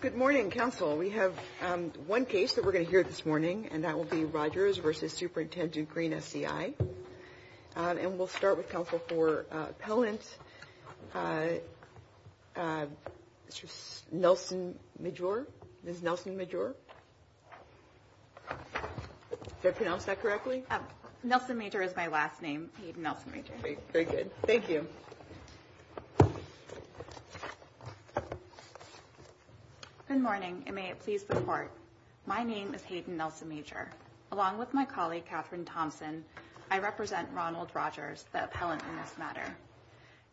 Good morning, Council. We have one case that we're going to hear this morning, and that will be Rogers v. Superintendent Greene SCI. And we'll start with Council for appellant Nelson Majure. Ms. Nelson Majure. Did I pronounce that correctly? Nelson Majure is my last name, Hayden Nelson Majure. Very good. Thank you. Good morning, and may it please report, my name is Hayden Nelson Majure. Along with my colleague, Catherine Thompson, I represent Ronald Rogers, the appellant in this matter.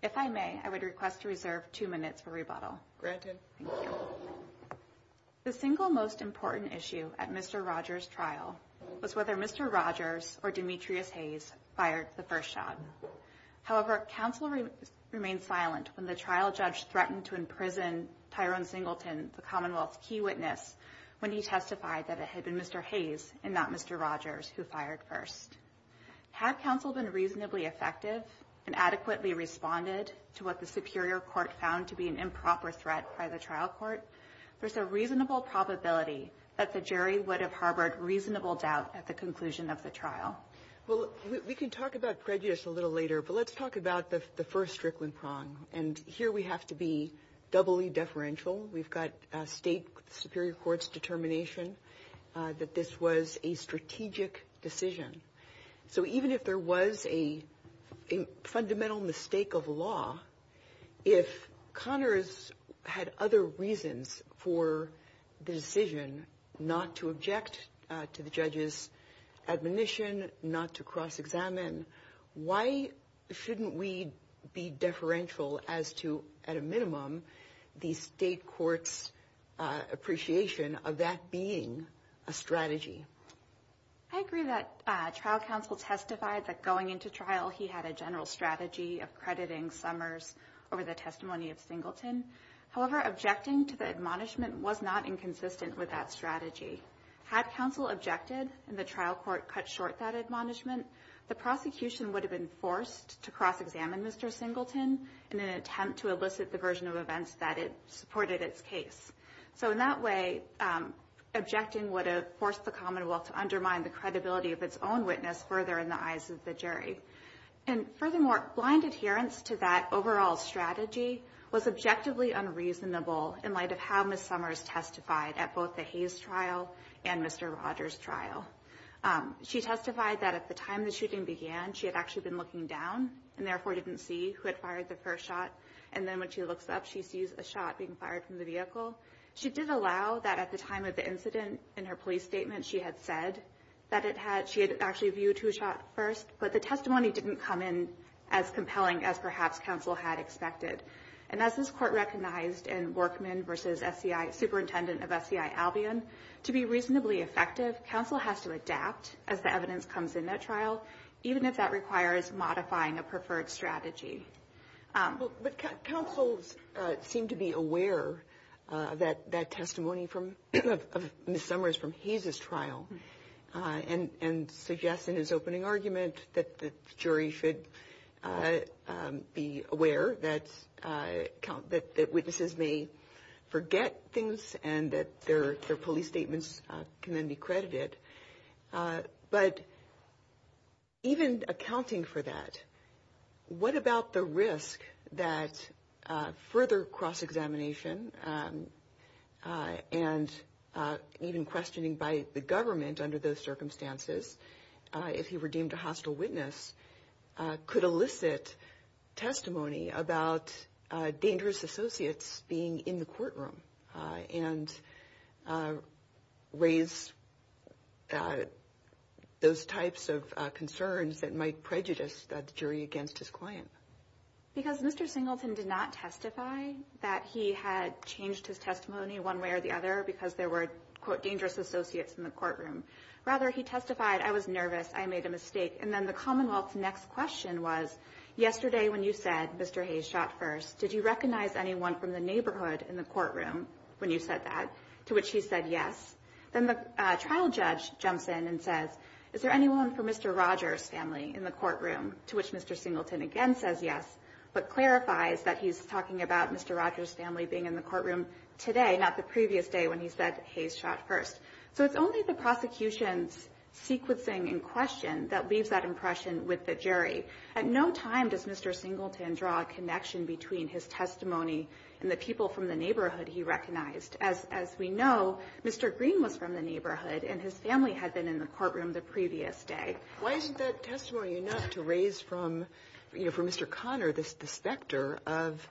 If I may, I would request to reserve two minutes for rebuttal. Granted. Thank you. The single most important issue at Mr. Rogers' trial was whether Mr. Rogers or Demetrius Hayes fired the first shot. However, Council remained silent when the trial judge threatened to imprison Tyrone Singleton, the Commonwealth's key witness, when he testified that it had been Mr. Hayes and not Mr. Rogers who fired first. Had Council been reasonably effective and adequately responded to what the Superior Court found to be an improper threat by the trial court, there's a reasonable probability that the jury would have harbored reasonable doubt at the conclusion of the trial. Well, we can talk about prejudice a little later, but let's talk about the first strickling prong. And here we have to be doubly deferential. We've got state Superior Court's determination that this was a strategic decision. So even if there was a fundamental mistake of law, if Connors had other reasons for the decision not to object to the judge's admonition, not to cross-examine, why shouldn't we be deferential as to, at a minimum, the state court's appreciation of that being a strategy? I agree that trial counsel testified that going into trial he had a general strategy of crediting Summers over the testimony of Singleton. However, objecting to the admonishment was not inconsistent with that strategy. Had Council objected and the trial court cut short that admonishment, the prosecution would have been forced to cross-examine Mr. Singleton in an attempt to elicit the version of events that it supported its case. So in that way, objecting would have forced the Commonwealth to undermine the credibility of its own witness further in the eyes of the jury. And furthermore, blind adherence to that overall strategy was objectively unreasonable in light of how Ms. Summers testified at both the Hayes trial and Mr. Rogers trial. She testified that at the time the shooting began, she had actually been looking down and therefore didn't see who had fired the first shot. And then when she looks up, she sees a shot being fired from the vehicle. She did allow that at the time of the incident in her police statement. She had said that she had actually viewed who shot first, but the testimony didn't come in as compelling as perhaps Council had expected. And as this Court recognized in Workman v. S.C.I., Superintendent of S.C.I. Albion, to be reasonably effective, Council has to adapt as the evidence comes in at trial, even if that requires modifying a preferred strategy. But Councils seem to be aware of that testimony from Ms. Summers from Hayes' trial, and suggest in his opening argument that the jury should be aware that witnesses may forget things and that their police statements can then be credited. But even accounting for that, what about the risk that further cross-examination and even questioning by the government under those circumstances, if he were deemed a hostile witness, could elicit testimony about dangerous associates being in the courtroom and raise those types of concerns that might prejudice the jury against his client? Because Mr. Singleton did not testify that he had changed his testimony one way or the other because there were, quote, dangerous associates in the courtroom. Rather, he testified, I was nervous, I made a mistake. And then the Commonwealth's next question was, yesterday when you said Mr. Hayes shot first, did you recognize anyone from the neighborhood in the courtroom when you said that? To which he said yes. Then the trial judge jumps in and says, is there anyone from Mr. Rogers' family in the courtroom? To which Mr. Singleton again says yes, but clarifies that he's talking about Mr. Rogers' family being in the courtroom today, not the previous day when he said Hayes shot first. So it's only the prosecution's sequencing in question that leaves that impression with the jury. At no time does Mr. Singleton draw a connection between his testimony and the people from the neighborhood he recognized. As we know, Mr. Green was from the neighborhood, and his family had been in the courtroom the previous day. Why isn't that testimony enough to raise from Mr. Conner the specter of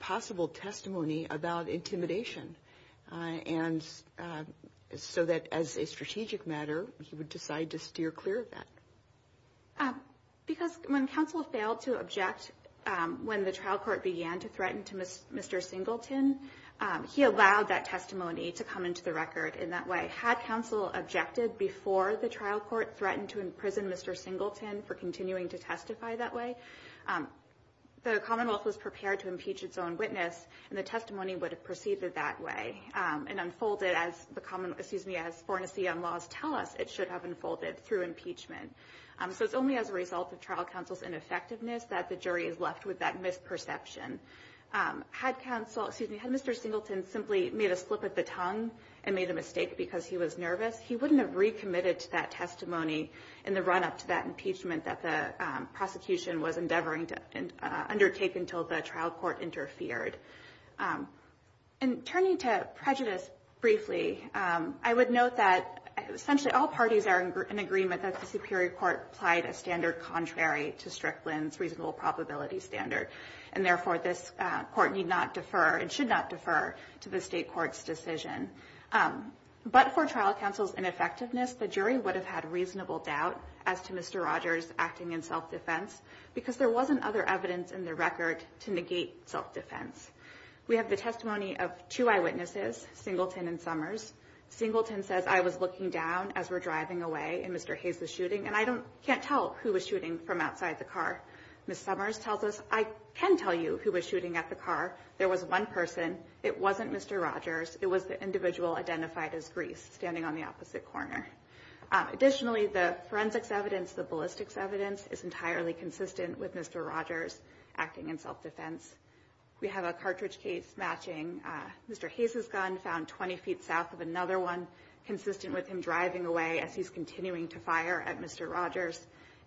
possible testimony about intimidation? And so that as a strategic matter, he would decide to steer clear of that. Because when counsel failed to object when the trial court began to threaten to Mr. Singleton, he allowed that testimony to come into the record in that way. Had counsel objected before the trial court threatened to imprison Mr. Singleton for continuing to testify that way, the Commonwealth was prepared to impeach its own witness, and the testimony would have proceeded that way and unfolded as the common, excuse me, as Fornesian laws tell us it should have unfolded through impeachment. So it's only as a result of trial counsel's ineffectiveness that the jury is left with that misperception. Had counsel, excuse me, had Mr. Singleton simply made a slip of the tongue and made a mistake because he was nervous, he wouldn't have recommitted to that testimony in the run-up to that impeachment that the prosecution was endeavoring to undertake until the trial court interfered. And turning to prejudice briefly, I would note that essentially all parties are in agreement that the Superior Court applied a standard contrary to Strickland's reasonable probability standard. And therefore, this Court need not defer and should not defer to the State court's decision. But for trial counsel's ineffectiveness, the jury would have had reasonable doubt as to Mr. Rogers acting in self-defense because there wasn't other evidence in the record to negate self-defense. We have the testimony of two eyewitnesses, Singleton and Summers. And I can't tell who was shooting from outside the car. Ms. Summers tells us, I can tell you who was shooting at the car. There was one person. It wasn't Mr. Rogers. It was the individual identified as Grease standing on the opposite corner. Additionally, the forensics evidence, the ballistics evidence, is entirely consistent with Mr. Rogers acting in self-defense. We have a cartridge case matching Mr. Hayes' gun found 20 feet south of another one, consistent with him driving away as he's continuing to fire at Mr. Rogers.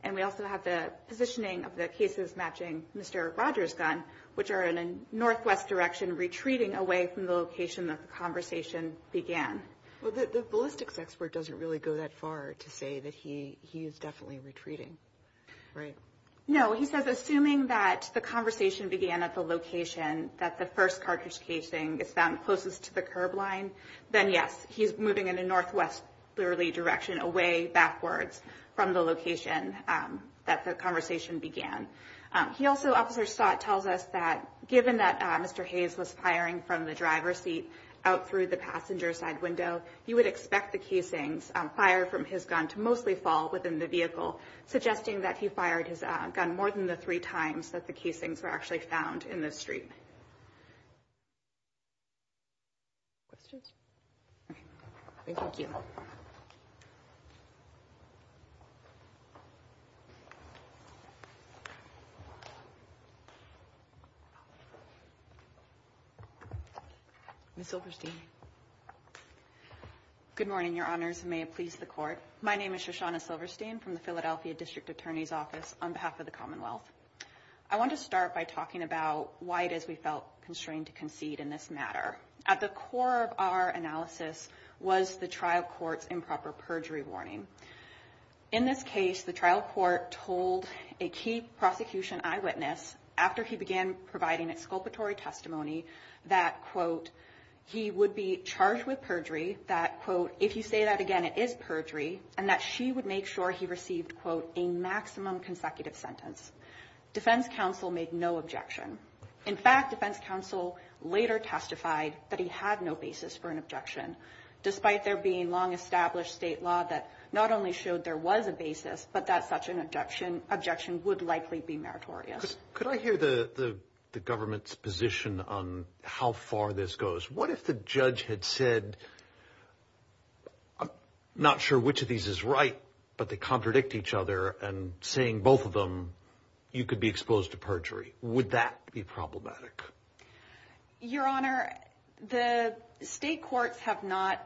And we also have the positioning of the cases matching Mr. Rogers' gun, which are in a northwest direction retreating away from the location that the conversation began. Well, the ballistics expert doesn't really go that far to say that he is definitely retreating, right? No. He says, assuming that the conversation began at the location that the first cartridge casing is found closest to the curb line, then, yes, he's moving in a northwest direction away backwards from the location that the conversation began. He also, Officer Stott tells us that given that Mr. Hayes was firing from the driver's seat out through the passenger side window, he would expect the casings fired from his gun to mostly fall within the vehicle, suggesting that he fired his gun more than the three times that the casings were actually found in the street. Questions? Okay. Thank you. Ms. Silverstein. Good morning, Your Honors, and may it please the Court. My name is Shoshana Silverstein from the Philadelphia District Attorney's Office on behalf of the Commonwealth. I want to start by talking about why it is we felt constrained to concede in this matter. At the core of our analysis was the trial court's improper perjury warning. In this case, the trial court told a key prosecution eyewitness after he began providing exculpatory testimony that, quote, he would be charged with perjury, that, quote, if you say that again, it is perjury, and that she would make sure he received, quote, a maximum consecutive sentence. Defense counsel made no objection. In fact, defense counsel later testified that he had no basis for an objection, despite there being long-established state law that not only showed there was a basis, but that such an objection would likely be meritorious. Could I hear the government's position on how far this goes? What if the judge had said, I'm not sure which of these is right, but they contradict each other, and saying both of them, you could be exposed to perjury? Would that be problematic? Your Honor, the state courts have not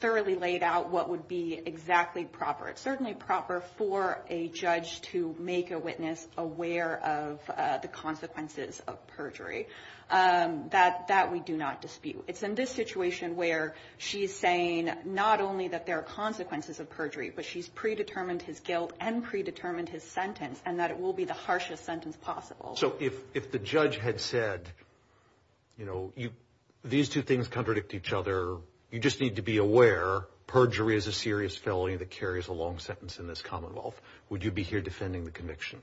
thoroughly laid out what would be exactly proper. It's certainly proper for a judge to make a witness aware of the consequences of perjury. That we do not dispute. It's in this situation where she's saying not only that there are consequences of perjury, but she's predetermined his guilt and predetermined his sentence, and that it will be the harshest sentence possible. So if the judge had said, you know, these two things contradict each other, you just need to be aware perjury is a serious felony that carries a long sentence in this commonwealth. Would you be here defending the conviction?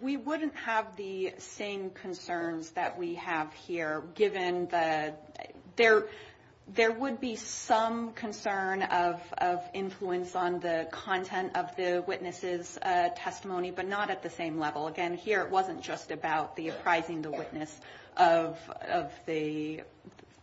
We wouldn't have the same concerns that we have here, given that there would be some concern of influence on the content of the witness's testimony, but not at the same level. Again, here it wasn't just about the apprising the witness of the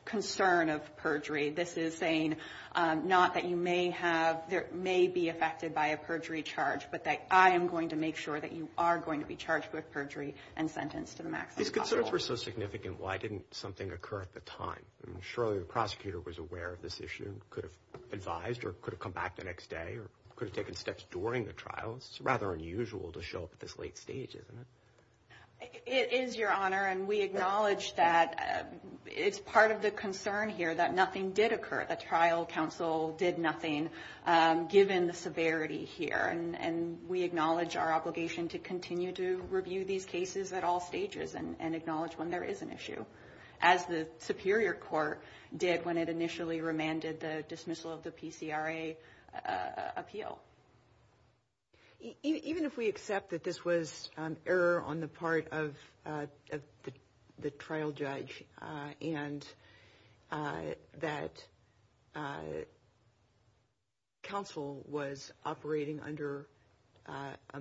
concern of perjury. This is saying not that you may have or may be affected by a perjury charge, but that I am going to make sure that you are going to be charged with perjury and sentenced to the maximum possible. These concerns were so significant, why didn't something occur at the time? Surely the prosecutor was aware of this issue and could have advised or could have come back the next day or could have taken steps during the trial. It's rather unusual to show up at this late stage, isn't it? It is, Your Honor, and we acknowledge that it's part of the concern here that nothing did occur. The trial counsel did nothing given the severity here, and we acknowledge our obligation to continue to review these cases at all stages and acknowledge when there is an issue, as the superior court did when it initially remanded the dismissal of the PCRA appeal. Even if we accept that this was error on the part of the trial judge and that counsel was operating under a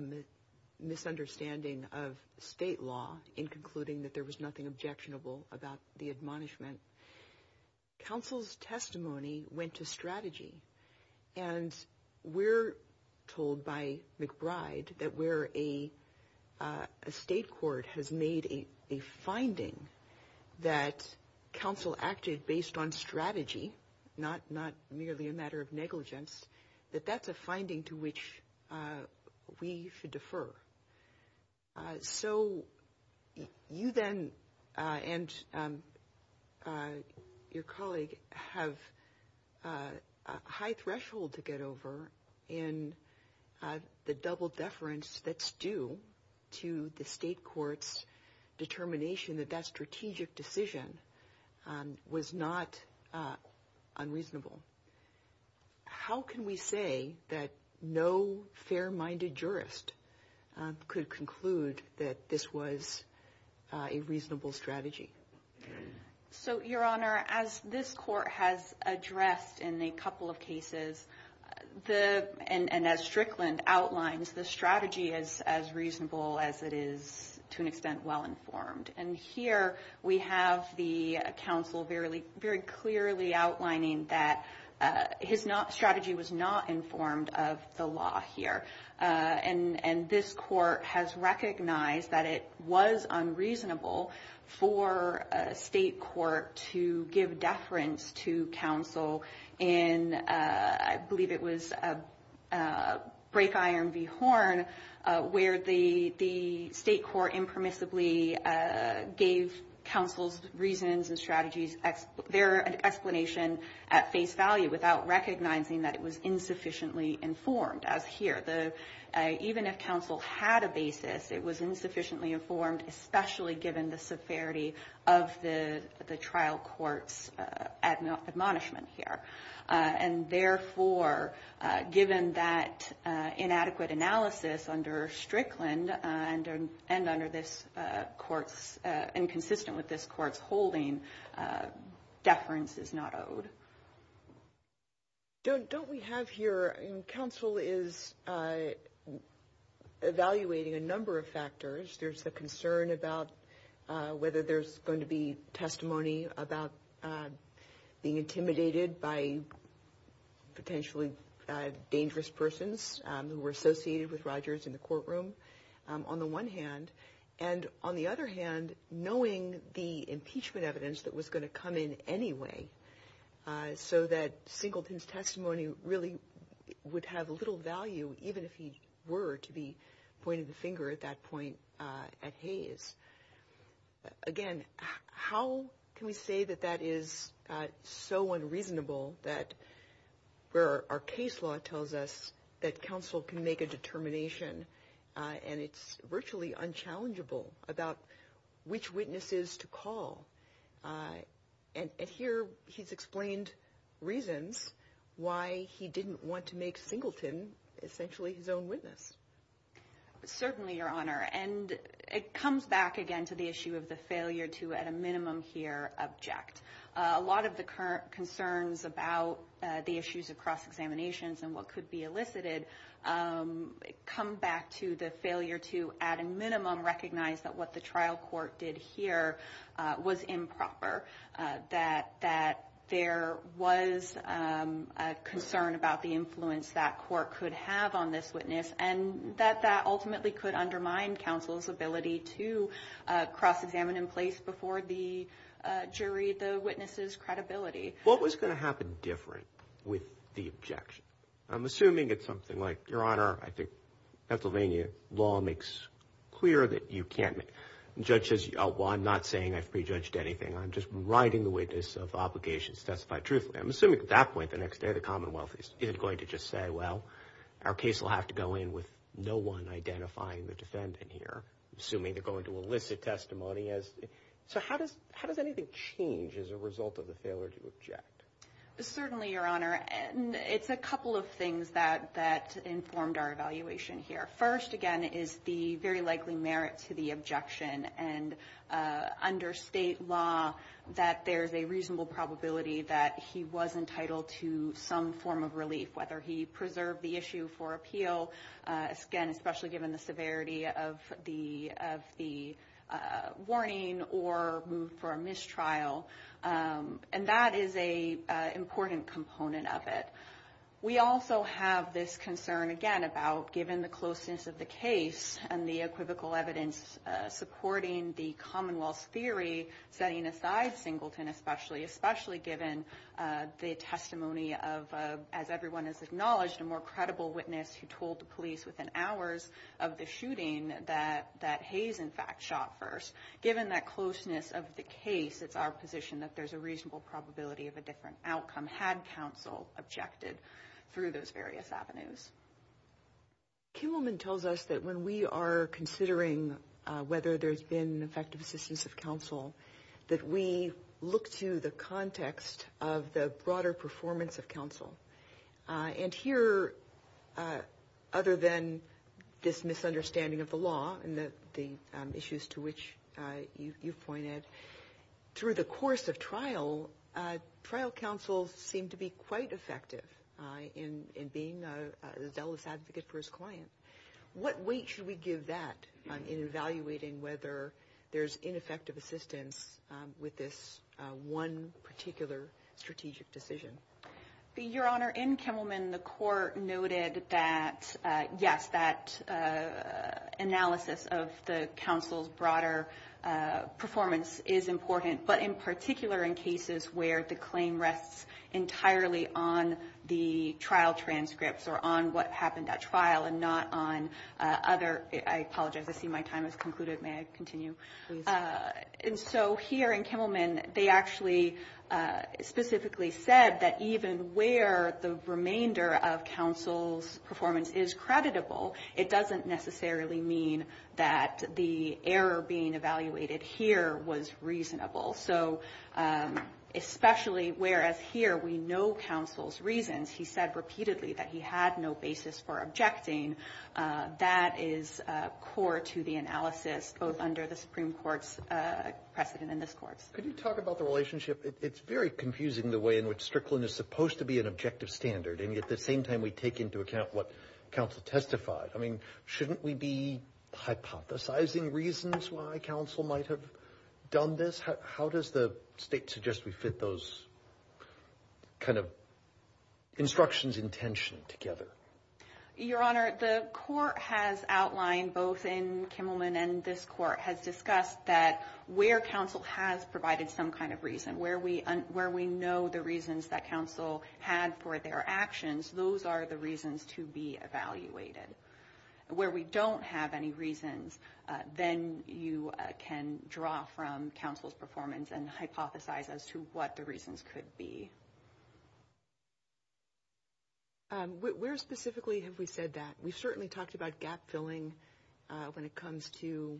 misunderstanding of state law in concluding that there was nothing objectionable about the admonishment, counsel's testimony went to strategy, and we're told by McBride that where a state court has made a finding that counsel acted based on strategy, not merely a matter of negligence, that that's a finding to which we should defer. So you then and your colleague have a high threshold to get over in the double deference that's due to the state court's determination that that strategic decision was not unreasonable. How can we say that no fair-minded jurist could conclude that this was a reasonable strategy? So, Your Honor, as this court has addressed in a couple of cases, and as Strickland outlines, the strategy is as reasonable as it is, to an extent, well-informed. And here we have the counsel very clearly outlining that his strategy was not informed of the law here. And this court has recognized that it was unreasonable for a state court to give deference to counsel in, I believe it was Break Iron v. Horn, where the state court impermissibly gave counsel's reasons and strategies their explanation at face value without recognizing that it was insufficiently informed, as here. Even if counsel had a basis, it was insufficiently informed, especially given the severity of the trial court's admonishment here. And therefore, given that inadequate analysis under Strickland and under this court's, and consistent with this court's holding, deference is not owed. Don't we have here, counsel is evaluating a number of factors. There's a concern about whether there's going to be testimony about being intimidated by potentially dangerous persons who were associated with Rogers in the courtroom, on the one hand. And on the other hand, knowing the impeachment evidence that was going to come in anyway, so that Singleton's testimony really would have little value, even if he were to be pointed the finger at that point at Hayes. Again, how can we say that that is so unreasonable that where our case law tells us that counsel can make a determination and it's virtually unchallengeable about which witnesses to call? And here, he's explained reasons why he didn't want to make Singleton essentially his own witness. Certainly, Your Honor. And it comes back again to the issue of the failure to, at a minimum here, object. A lot of the current concerns about the issues across examinations and what could be elicited come back to the failure to, at a minimum, recognize that what the trial court did here was improper. That there was a concern about the influence that court could have on this witness and that that ultimately could undermine counsel's ability to cross-examine in place before the jury the witness's credibility. What was going to happen different with the objection? I'm assuming it's something like, Your Honor, I think Pennsylvania law makes clear that you can't judge. I'm not saying I've prejudged anything. I'm just writing the witness of obligation specified truthfully. I'm assuming at that point, the next day, the Commonwealth isn't going to just say, well, our case will have to go in with no one identifying the defendant here. I'm assuming they're going to elicit testimony. Certainly, Your Honor. It's a couple of things that informed our evaluation here. First, again, is the very likely merit to the objection and under state law that there's a reasonable probability that he was entitled to some form of relief, whether he preserved the issue for appeal, again, especially given the severity of the warning or moved for a mistrial. And that is an important component of it. We also have this concern, again, about given the closeness of the case and the equivocal evidence supporting the Commonwealth's theory setting aside Singleton, especially given the testimony of, as everyone has acknowledged, a more credible witness who told the police within hours of the shooting that Hayes, in fact, shot first. Given that closeness of the case, it's our position that there's a reasonable probability of a different outcome had counsel objected through those various avenues. Kimmelman tells us that when we are considering whether there's been effective assistance of counsel, that we look to the context of the broader performance of counsel. And here, other than this misunderstanding of the law and the issues to which you've pointed, through the course of trial, trial counsel seemed to be quite effective in being a zealous advocate for his client. What weight should we give that in evaluating whether there's ineffective assistance with this one particular strategic decision? Your Honor, in Kimmelman, the court noted that, yes, that analysis of the counsel's broader performance is important, but in particular in cases where the claim rests entirely on the trial transcripts or on what happened at trial and not on other – I apologize, I see my time has concluded. May I continue? Please. And so here in Kimmelman, they actually specifically said that even where the remainder of counsel's performance is creditable, it doesn't necessarily mean that the error being evaluated here was reasonable. So especially whereas here we know counsel's reasons, he said repeatedly that he had no basis for objecting, that is core to the analysis, both under the Supreme Court's precedent and this Court's. Could you talk about the relationship? It's very confusing the way in which Strickland is supposed to be an objective standard, and yet at the same time we take into account what counsel testified. I mean, shouldn't we be hypothesizing reasons why counsel might have done this? How does the State suggest we fit those kind of instructions and intention together? Your Honor, the Court has outlined, both in Kimmelman and this Court, has discussed that where counsel has provided some kind of reason, where we know the reasons that counsel had for their actions, those are the reasons to be evaluated. Where we don't have any reasons, then you can draw from counsel's performance and hypothesize as to what the reasons could be. Where specifically have we said that? We've certainly talked about gap-filling when it comes to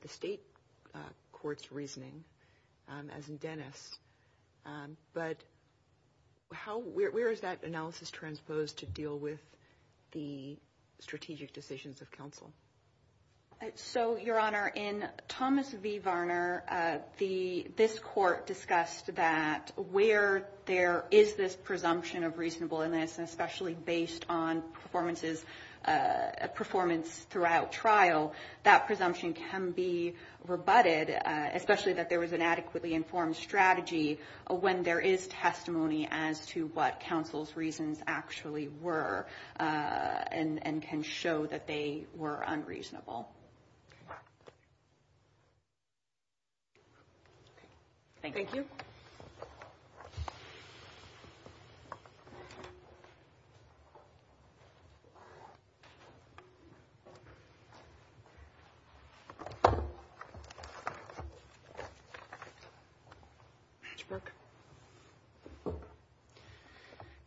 the State Court's reasoning, as in Dennis. But where is that analysis transposed to deal with the strategic decisions of counsel? Your Honor, in Thomas v. Varner, this Court discussed that where there is this presumption of reasonableness, and especially based on performance throughout trial, that presumption can be rebutted, especially that there was an adequately informed strategy when there is testimony as to what counsel's reasons actually were, and can show that they were unreasonable. Thank you.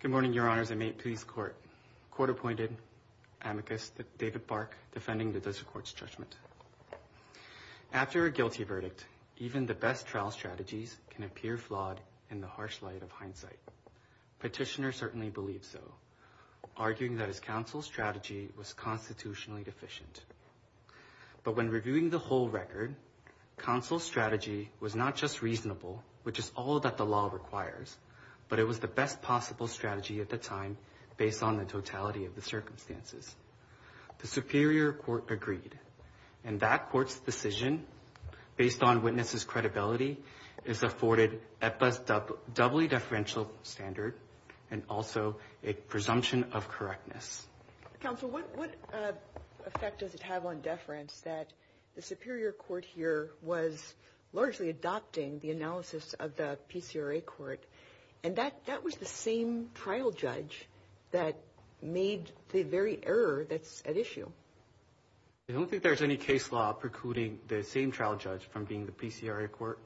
Good morning, Your Honors, and may it please the Court. Court appointed amicus David Park defending the District Court's judgment. After a guilty verdict, even the best trial strategies can appear flawed in the harsh light of hindsight. Petitioner certainly believed so, arguing that his counsel's strategy was constitutionally deficient. But when reviewing the whole record, counsel's strategy was not just reasonable, which is all that the law requires, but it was the best possible strategy at the time, based on the totality of the circumstances. The Superior Court agreed, and that Court's decision, based on witnesses' credibility, is afforded EPA's doubly deferential standard and also a presumption of correctness. Counsel, what effect does it have on deference that the Superior Court here was largely adopting the analysis of the PCRA Court, and that was the same trial judge that made the very error that's at issue? I don't think there's any case law precluding the same trial judge from being the PCRA Court,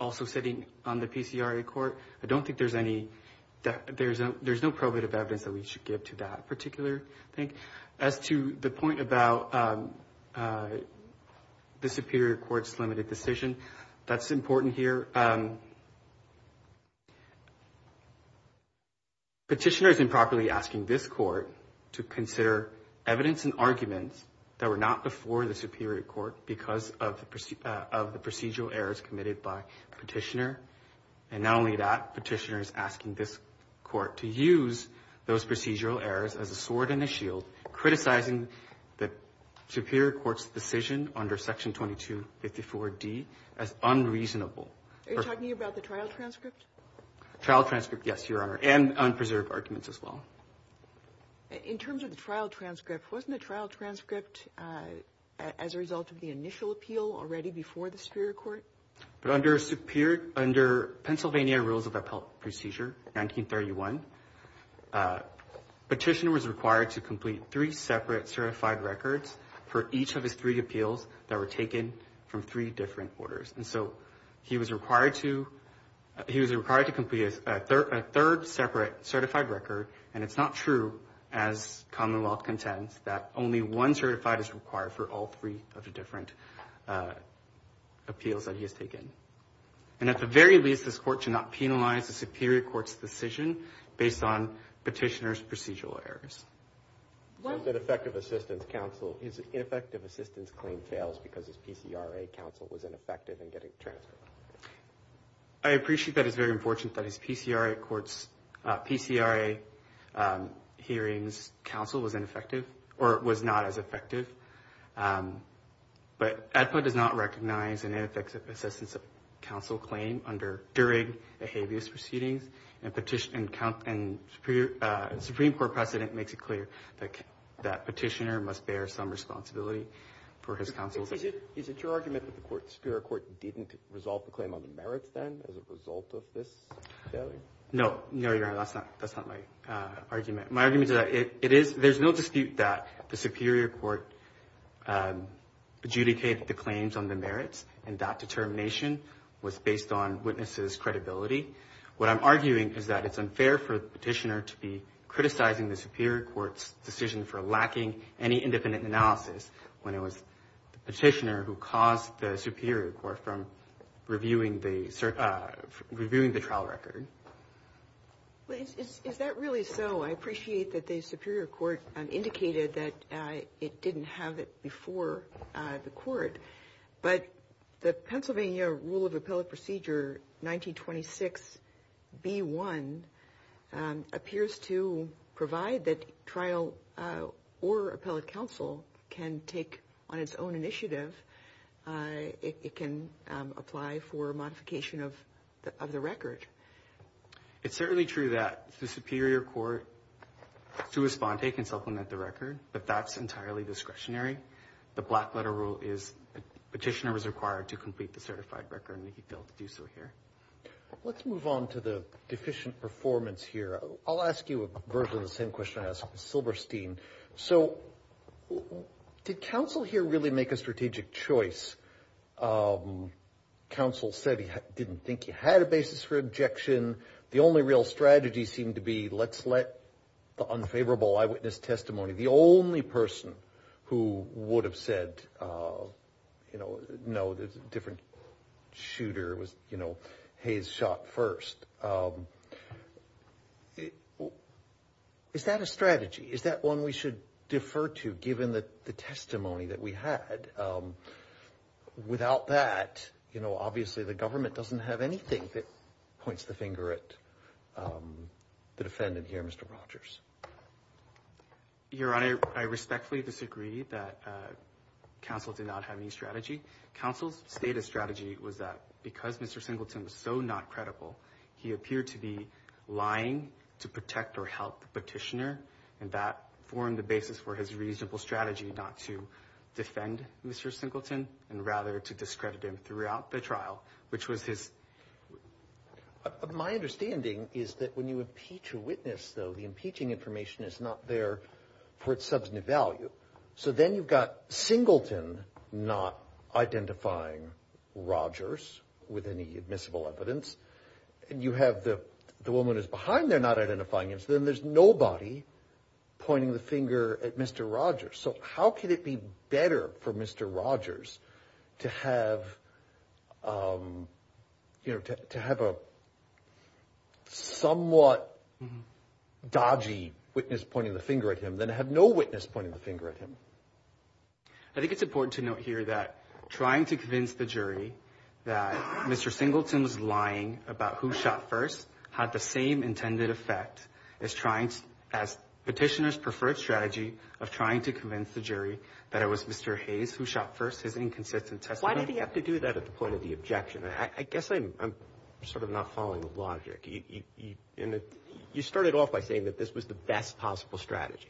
also sitting on the PCRA Court. I don't think there's any – there's no probative evidence that we should give to that particular thing. As to the point about the Superior Court's limited decision, that's important here. Petitioner is improperly asking this Court to consider evidence and arguments that were not before the Superior Court because of the procedural errors committed by Petitioner. And not only that, Petitioner is asking this Court to use those procedural errors as a sword and a shield, criticizing the Superior Court's decision under Section 2254d as unreasonable. Are you talking about the trial transcript? Trial transcript, yes, Your Honor, and unpreserved arguments as well. In terms of the trial transcript, wasn't the trial transcript as a result of the initial appeal already before the Superior Court? Under Pennsylvania Rules of Appeal Procedure 1931, Petitioner was required to complete three separate certified records for each of his three appeals that were taken from three different orders. And so he was required to complete a third separate certified record, and it's not true, as Commonwealth contends, that only one certified is required for all three of the different appeals that he has taken. And at the very least, this Court should not penalize the Superior Court's decision based on Petitioner's procedural errors. What if an effective assistance claim fails because his PCRA counsel was ineffective in getting the transcript? I appreciate that it's very unfortunate that his PCRA hearings counsel was ineffective, or was not as effective. But ADPA does not recognize an ineffective assistance counsel claim during a habeas proceedings, and Supreme Court precedent makes it clear that Petitioner must bear some responsibility for his counsel's... Is it your argument that the Superior Court didn't resolve the claim on the merits then as a result of this failure? No, no, Your Honor, that's not my argument. My argument is that there's no dispute that the Superior Court adjudicated the claims on the merits, and that determination was based on witnesses' credibility. What I'm arguing is that it's unfair for Petitioner to be criticizing the Superior Court's decision for lacking any independent analysis when it was Petitioner who caused the Superior Court from reviewing the trial record. Is that really so? I appreciate that the Superior Court indicated that it didn't have it before the court, but the Pennsylvania Rule of Appellate Procedure 1926b1 appears to provide that trial or appellate counsel can take on its own initiative. It can apply for modification of the record. It's certainly true that the Superior Court, through Esponte, can supplement the record, but that's entirely discretionary. The Blackletter Rule is Petitioner is required to complete the certified record, and he failed to do so here. Let's move on to the deficient performance here. I'll ask you virtually the same question I asked Ms. Silberstein. So did counsel here really make a strategic choice? Counsel said he didn't think he had a basis for objection. The only real strategy seemed to be let's let the unfavorable eyewitness testimony, the only person who would have said, you know, no, there's a different shooter. It was, you know, Hayes shot first. Is that a strategy? Is that one we should defer to given the testimony that we had? Without that, you know, obviously the government doesn't have anything that points the finger at the defendant here, Mr. Rogers. Your Honor, I respectfully disagree that counsel did not have any strategy. Counsel's stated strategy was that because Mr. Singleton was so not credible, he appeared to be lying to protect or help the petitioner, and that formed the basis for his reasonable strategy not to defend Mr. Singleton and rather to discredit him throughout the trial, which was his. My understanding is that when you impeach a witness, though, the impeaching information is not there for its substantive value. So then you've got Singleton not identifying Rogers with any admissible evidence, and you have the woman who's behind there not identifying him, so then there's nobody pointing the finger at Mr. Rogers. So how could it be better for Mr. Rogers to have, you know, to have a somewhat dodgy witness pointing the finger at him than to have no witness pointing the finger at him? I think it's important to note here that trying to convince the jury that Mr. Singleton was lying about who shot first had the same intended effect as trying to ask petitioner's preferred strategy of trying to convince the jury that it was Mr. Hayes who shot first, his inconsistent testimony. Why did he have to do that at the point of the objection? I guess I'm sort of not following the logic. You started off by saying that this was the best possible strategy.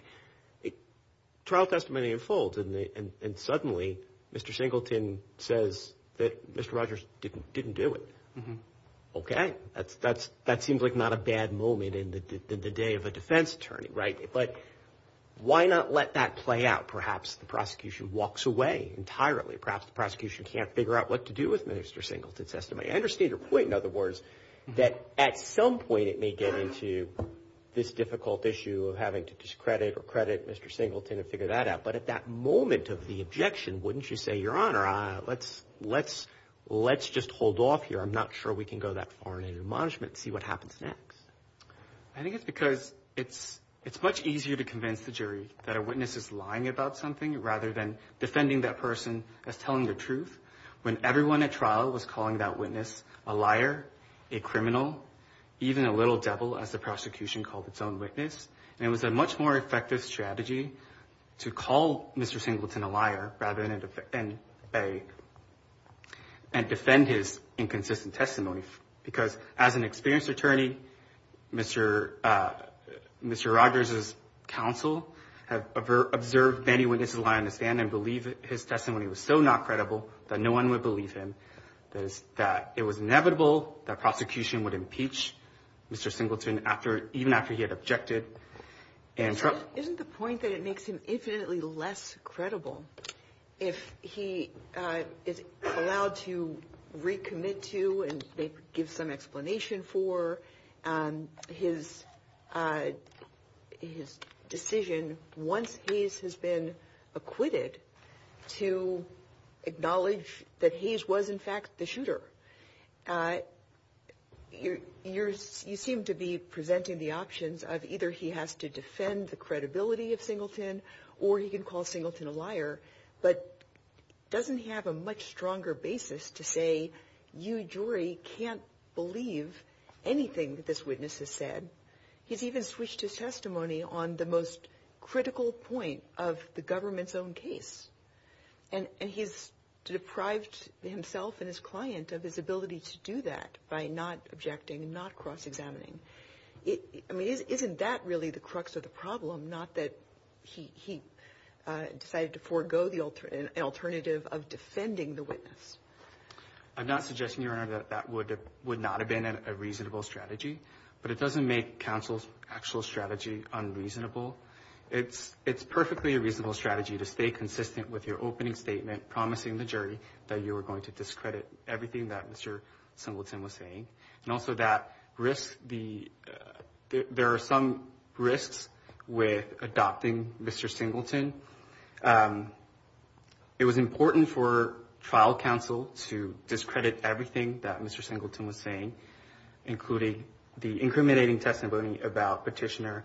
Trial testimony unfolds, and suddenly Mr. Singleton says that Mr. Rogers didn't do it. Okay. That seems like not a bad moment in the day of a defense attorney, right? But why not let that play out? Perhaps the prosecution walks away entirely. Perhaps the prosecution can't figure out what to do with Mr. Singleton's testimony. I understand your point, in other words, that at some point it may get into this difficult issue of having to discredit or credit Mr. Singleton and figure that out. But at that moment of the objection, wouldn't you say, Your Honor, let's just hold off here? I'm not sure we can go that far in admonishment and see what happens next. I think it's because it's much easier to convince the jury that a witness is lying about something rather than defending that person as telling the truth. When everyone at trial was calling that witness a liar, a criminal, even a little devil as the prosecution called its own witness, it was a much more effective strategy to call Mr. Singleton a liar rather than defend his inconsistent testimony. Because as an experienced attorney, Mr. Rogers' counsel have observed many witnesses lie on the stand and believe his testimony was so not credible that no one would believe him, that it was inevitable that prosecution would impeach Mr. Singleton even after he had objected. Isn't the point that it makes him infinitely less credible if he is allowed to recommit to and give some explanation for his decision once Hayes has been acquitted to acknowledge that Hayes was in fact the shooter? You seem to be presenting the options of either he has to defend the credibility of Singleton or he can call Singleton a liar, but doesn't he have a much stronger basis to say, you jury can't believe anything that this witness has said? He's even switched his testimony on the most critical point of the government's own case. And he's deprived himself and his client of his ability to do that by not objecting, not cross-examining. I mean, isn't that really the crux of the problem, not that he decided to forego the alternative of defending the witness? I'm not suggesting, Your Honor, that that would not have been a reasonable strategy, but it doesn't make counsel's actual strategy unreasonable. It's perfectly a reasonable strategy to stay consistent with your opening statement promising the jury that you were going to discredit everything that Mr. Singleton was saying, and also that there are some risks with adopting Mr. Singleton. It was important for trial counsel to discredit everything that Mr. Singleton was saying, including the incriminating testimony about Petitioner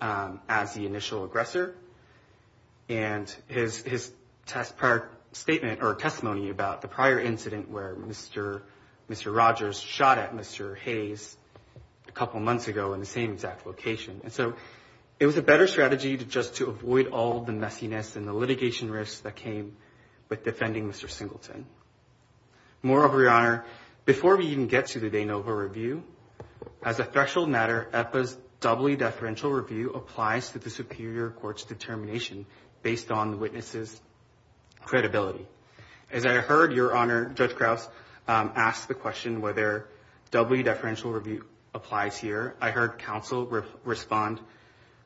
as the initial aggressor and his testimony about the prior incident where Mr. Rogers shot at Mr. Hayes a couple months ago in the same exact location. And so it was a better strategy just to avoid all the messiness and the litigation risks that came with defending Mr. Singleton. Moreover, Your Honor, before we even get to the de novo review, as a threshold matter, EPA's doubly deferential review applies to the superior court's determination based on the witness's credibility. As I heard Your Honor, Judge Krause, ask the question whether doubly deferential review applies here, I heard counsel respond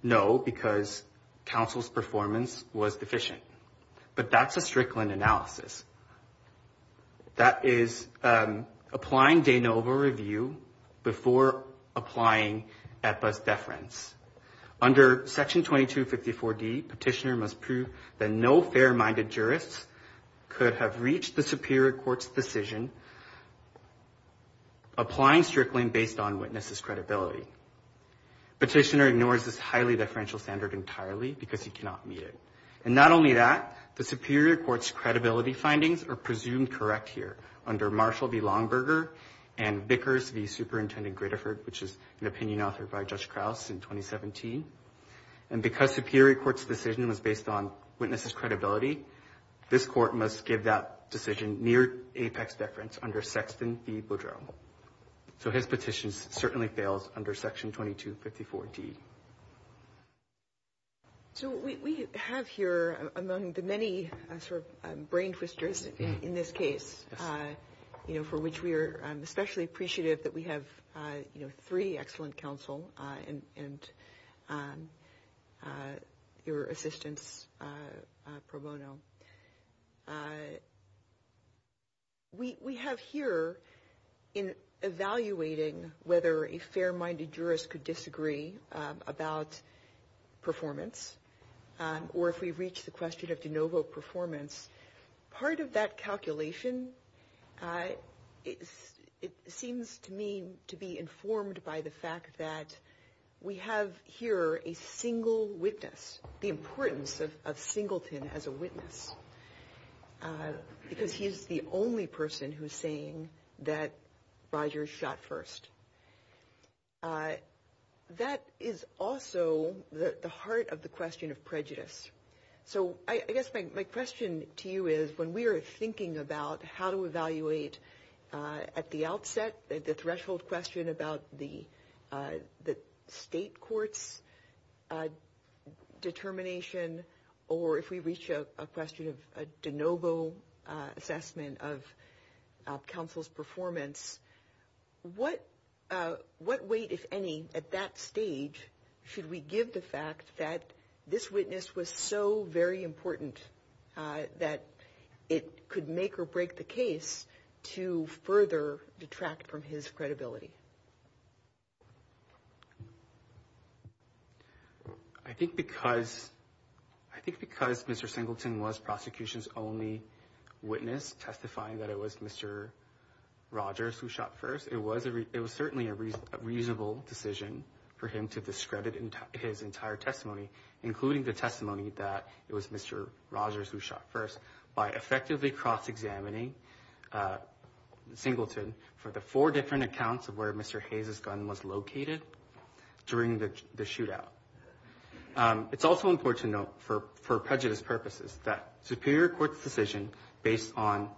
no because counsel's performance was deficient. But that's a Strickland analysis. That is applying de novo review before applying EPA's deference. Under Section 2254D, Petitioner must prove that no fair-minded jurist could have reached the superior court's decision applying Strickland based on witness's credibility. Petitioner ignores this highly deferential standard entirely because he cannot meet it. And not only that, the superior court's credibility findings are presumed correct here under Marshall v. Longberger and Bickers v. Superintendent Gritterford, which is an opinion authored by Judge Krause in 2017. And because superior court's decision was based on witness's credibility, this court must give that decision near apex deference under Sexton v. Boudreaux. So his petition certainly fails under Section 2254D. So what we have here among the many sort of brain twisters in this case, you know, for which we are especially appreciative that we have, you know, three excellent counsel and your assistance, Pro Bono, we have here in evaluating whether a fair-minded jurist could disagree about performance or if we reach the question of de novo performance, part of that calculation, it seems to me to be informed by the fact that we have here a single witness, the importance of singleton as a witness, because he's the only person who's saying that Rogers shot first. That is also the heart of the question of prejudice. So I guess my question to you is when we are thinking about how to evaluate at the outset, the threshold question about the state court's determination, or if we reach a question of de novo assessment of counsel's performance, what weight, if any, at that stage should we give the fact that this witness was so very important that it could make or break the case to further detract from his credibility? I think because Mr. Singleton was prosecution's only witness testifying that it was Mr. Rogers who shot first, it was certainly a reasonable decision for him to discredit his entire testimony, including the testimony that it was Mr. Rogers who shot first, by effectively cross-examining Singleton for the four different accounts of where Mr. Hayes' gun was located during the shootout. It's also important to note, for prejudice purposes, that Superior Court's decision based on...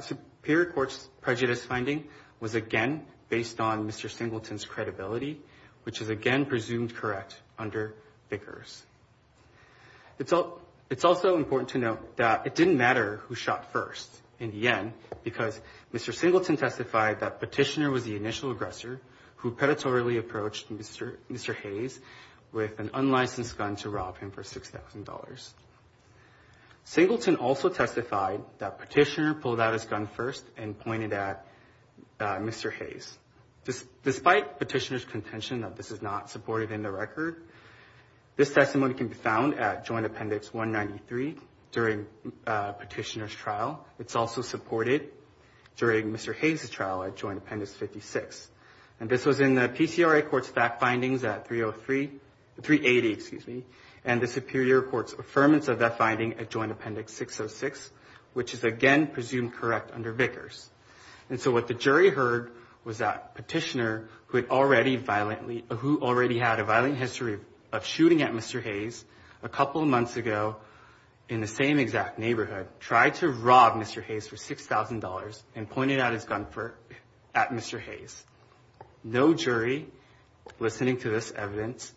Superior Court's prejudice finding was again based on Mr. Singleton's credibility, which is again presumed correct under Vickers. It's also important to note that it didn't matter who shot first in the end, because Mr. Singleton testified that Petitioner was the initial aggressor who predatorily approached Mr. Hayes with an unlicensed gun to rob him for $6,000. Singleton also testified that Petitioner pulled out his gun first and pointed at Mr. Hayes. It's also important to note that this is not supported in the record. This testimony can be found at Joint Appendix 193 during Petitioner's trial. It's also supported during Mr. Hayes' trial at Joint Appendix 56. And this was in the PCRA Court's fact findings at 303... 380, excuse me, and the Superior Court's affirmance of that finding at Joint Appendix 606, which is again presumed correct under Vickers. And so what the jury heard was that Petitioner, who had already violently... who already had a violent history of shooting at Mr. Hayes a couple of months ago in the same exact neighborhood, tried to rob Mr. Hayes for $6,000 and pointed out his gun at Mr. Hayes. No jury listening to this evidence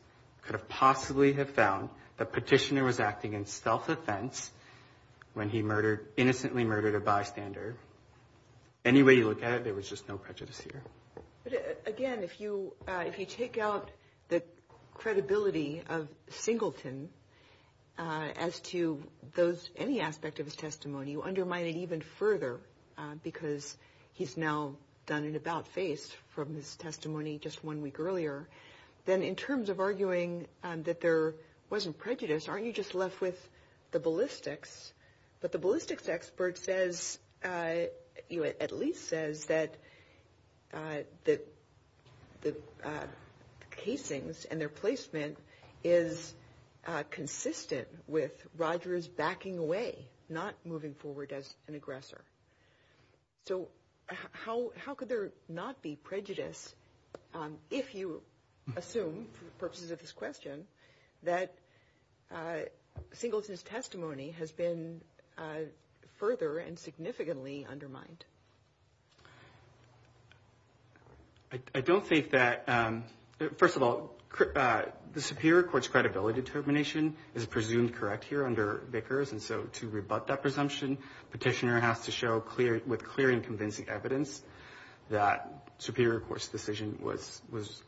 could have possibly have found that Petitioner was acting in self-offense when he murdered... innocently murdered a bystander. Any way you look at it, there was just no prejudice here. But again, if you take out the credibility of Singleton as to those... any aspect of his testimony, you undermine it even further, because he's now done an about-face from his testimony just one week earlier. Then in terms of arguing that there wasn't prejudice, aren't you just left with the ballistics? But the ballistics expert says... at least says that the casings and their placement is consistent with Rogers backing away, not moving forward as an aggressor. So how could there not be prejudice if you assume, for the purposes of this question, that Singleton's testimony has been further and significantly undermined? I don't think that... first of all, the superior court's credibility determination is presumed correct here under Vickers, and so to rebut that presumption, Petitioner has to show, with clear and convincing evidence, that the superior court's decision was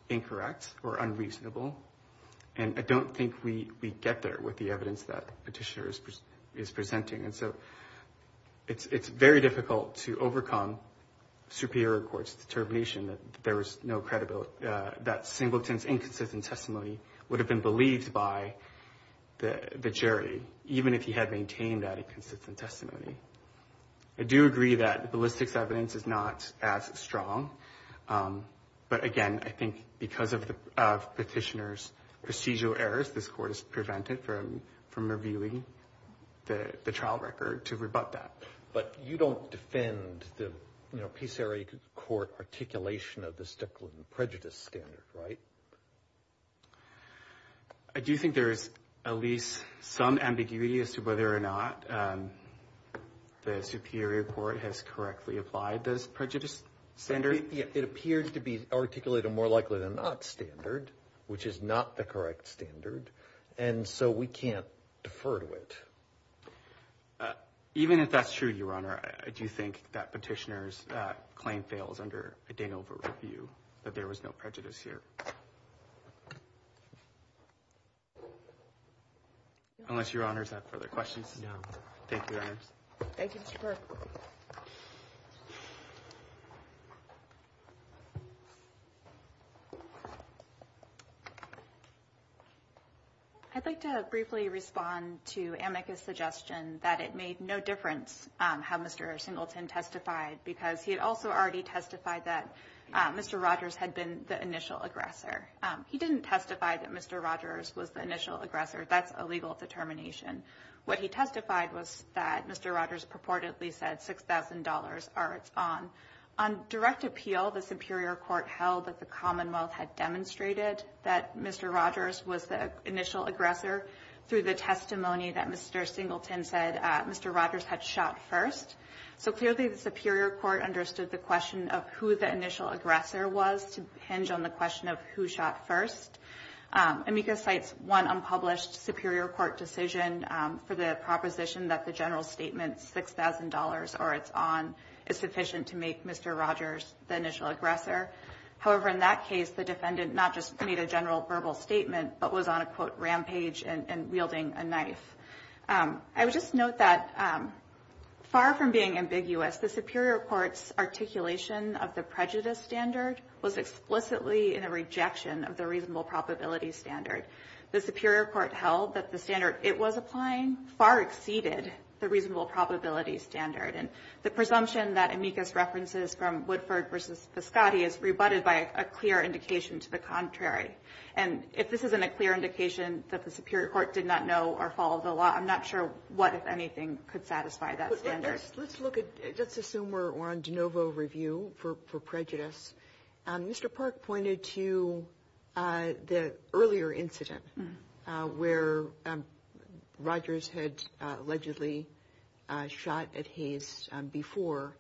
incorrect or unreasonable. And I don't think we get there with the evidence that Petitioner is presenting. And so it's very difficult to overcome superior court's determination that there was no credibility... that Singleton's inconsistent testimony would have been believed by the jury, even if he had maintained that inconsistent testimony. I do agree that the ballistics evidence is not as strong, but again, I think because of Petitioner's procedural errors, this Court is prevented from reviewing the trial record to rebut that. But you don't defend the, you know, Peace Area Court articulation of the Stickland prejudice standard, right? I do think there is at least some ambiguity as to whether or not the superior court has correctly applied this prejudice standard. It appears to be articulated more likely than not standard, which is not the correct standard, and so we can't defer to it. Even if that's true, Your Honor, I do think that Petitioner's claim fails under a Danova review, that there was no prejudice here. Unless Your Honors have further questions? No. Thank you, Your Honors. I'd like to briefly respond to Amica's suggestion that it made no difference how Mr. Singleton testified, because he had also already testified that Mr. Rogers had been the initial aggressor. He didn't testify that Mr. Rogers was the initial aggressor. That's a legal determination. What he testified was that Mr. Rogers purportedly said $6,000 or it's on. On direct appeal, the superior court held that the Commonwealth had demonstrated that Mr. Rogers was the initial aggressor through the testimony that Mr. Singleton said Mr. Rogers had shot first. So clearly the superior court understood the question of who the initial aggressor was to hinge on the question of who shot first. Amica cites one unpublished superior court decision for the proposition that the general statement, $6,000 or it's on, is sufficient to make Mr. Rogers the initial aggressor. However, in that case, the defendant not just made a general verbal statement, but was on a, quote, rampage and wielding a knife. I would just note that far from being ambiguous, the superior court's articulation of the prejudice standard was explicitly in a rejection of the reasonable probability standard. The superior court held that the standard it was applying far exceeded the reasonable probability standard. And the presumption that Amica's references from Woodford versus Viscotti is rebutted by a clear indication to the contrary. And if this isn't a clear indication that the superior court did not know or follow the law, I'm not sure what, if anything, could satisfy that standard. Let's look at, let's assume we're on de novo review for prejudice. Mr. Park pointed to the earlier incident where Rogers had allegedly shot at Hayes before.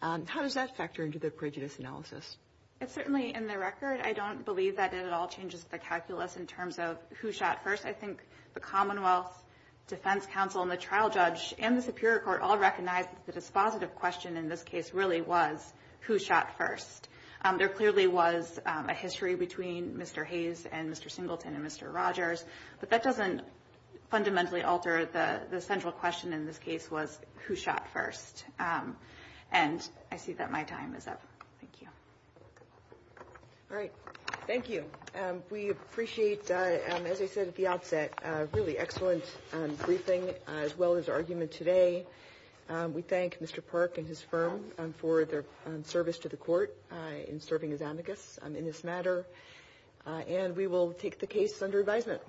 How does that factor into the prejudice analysis? It certainly, in the record, I don't believe that it at all changes the calculus in terms of who shot first. I think the Commonwealth Defense Council and the trial judge and the superior court all recognized that the dispositive question in this case really was who shot first. There clearly was a history between Mr. Hayes and Mr. Singleton and Mr. Rogers, but that doesn't fundamentally alter the central question in this case was who shot first. And I see that my time is up. Thank you. All right. Thank you. We appreciate, as I said at the outset, a really excellent briefing as well as argument today. We thank Mr. Park and his firm for their service to the court in serving as amicus in this matter. And we will take the case under advisement.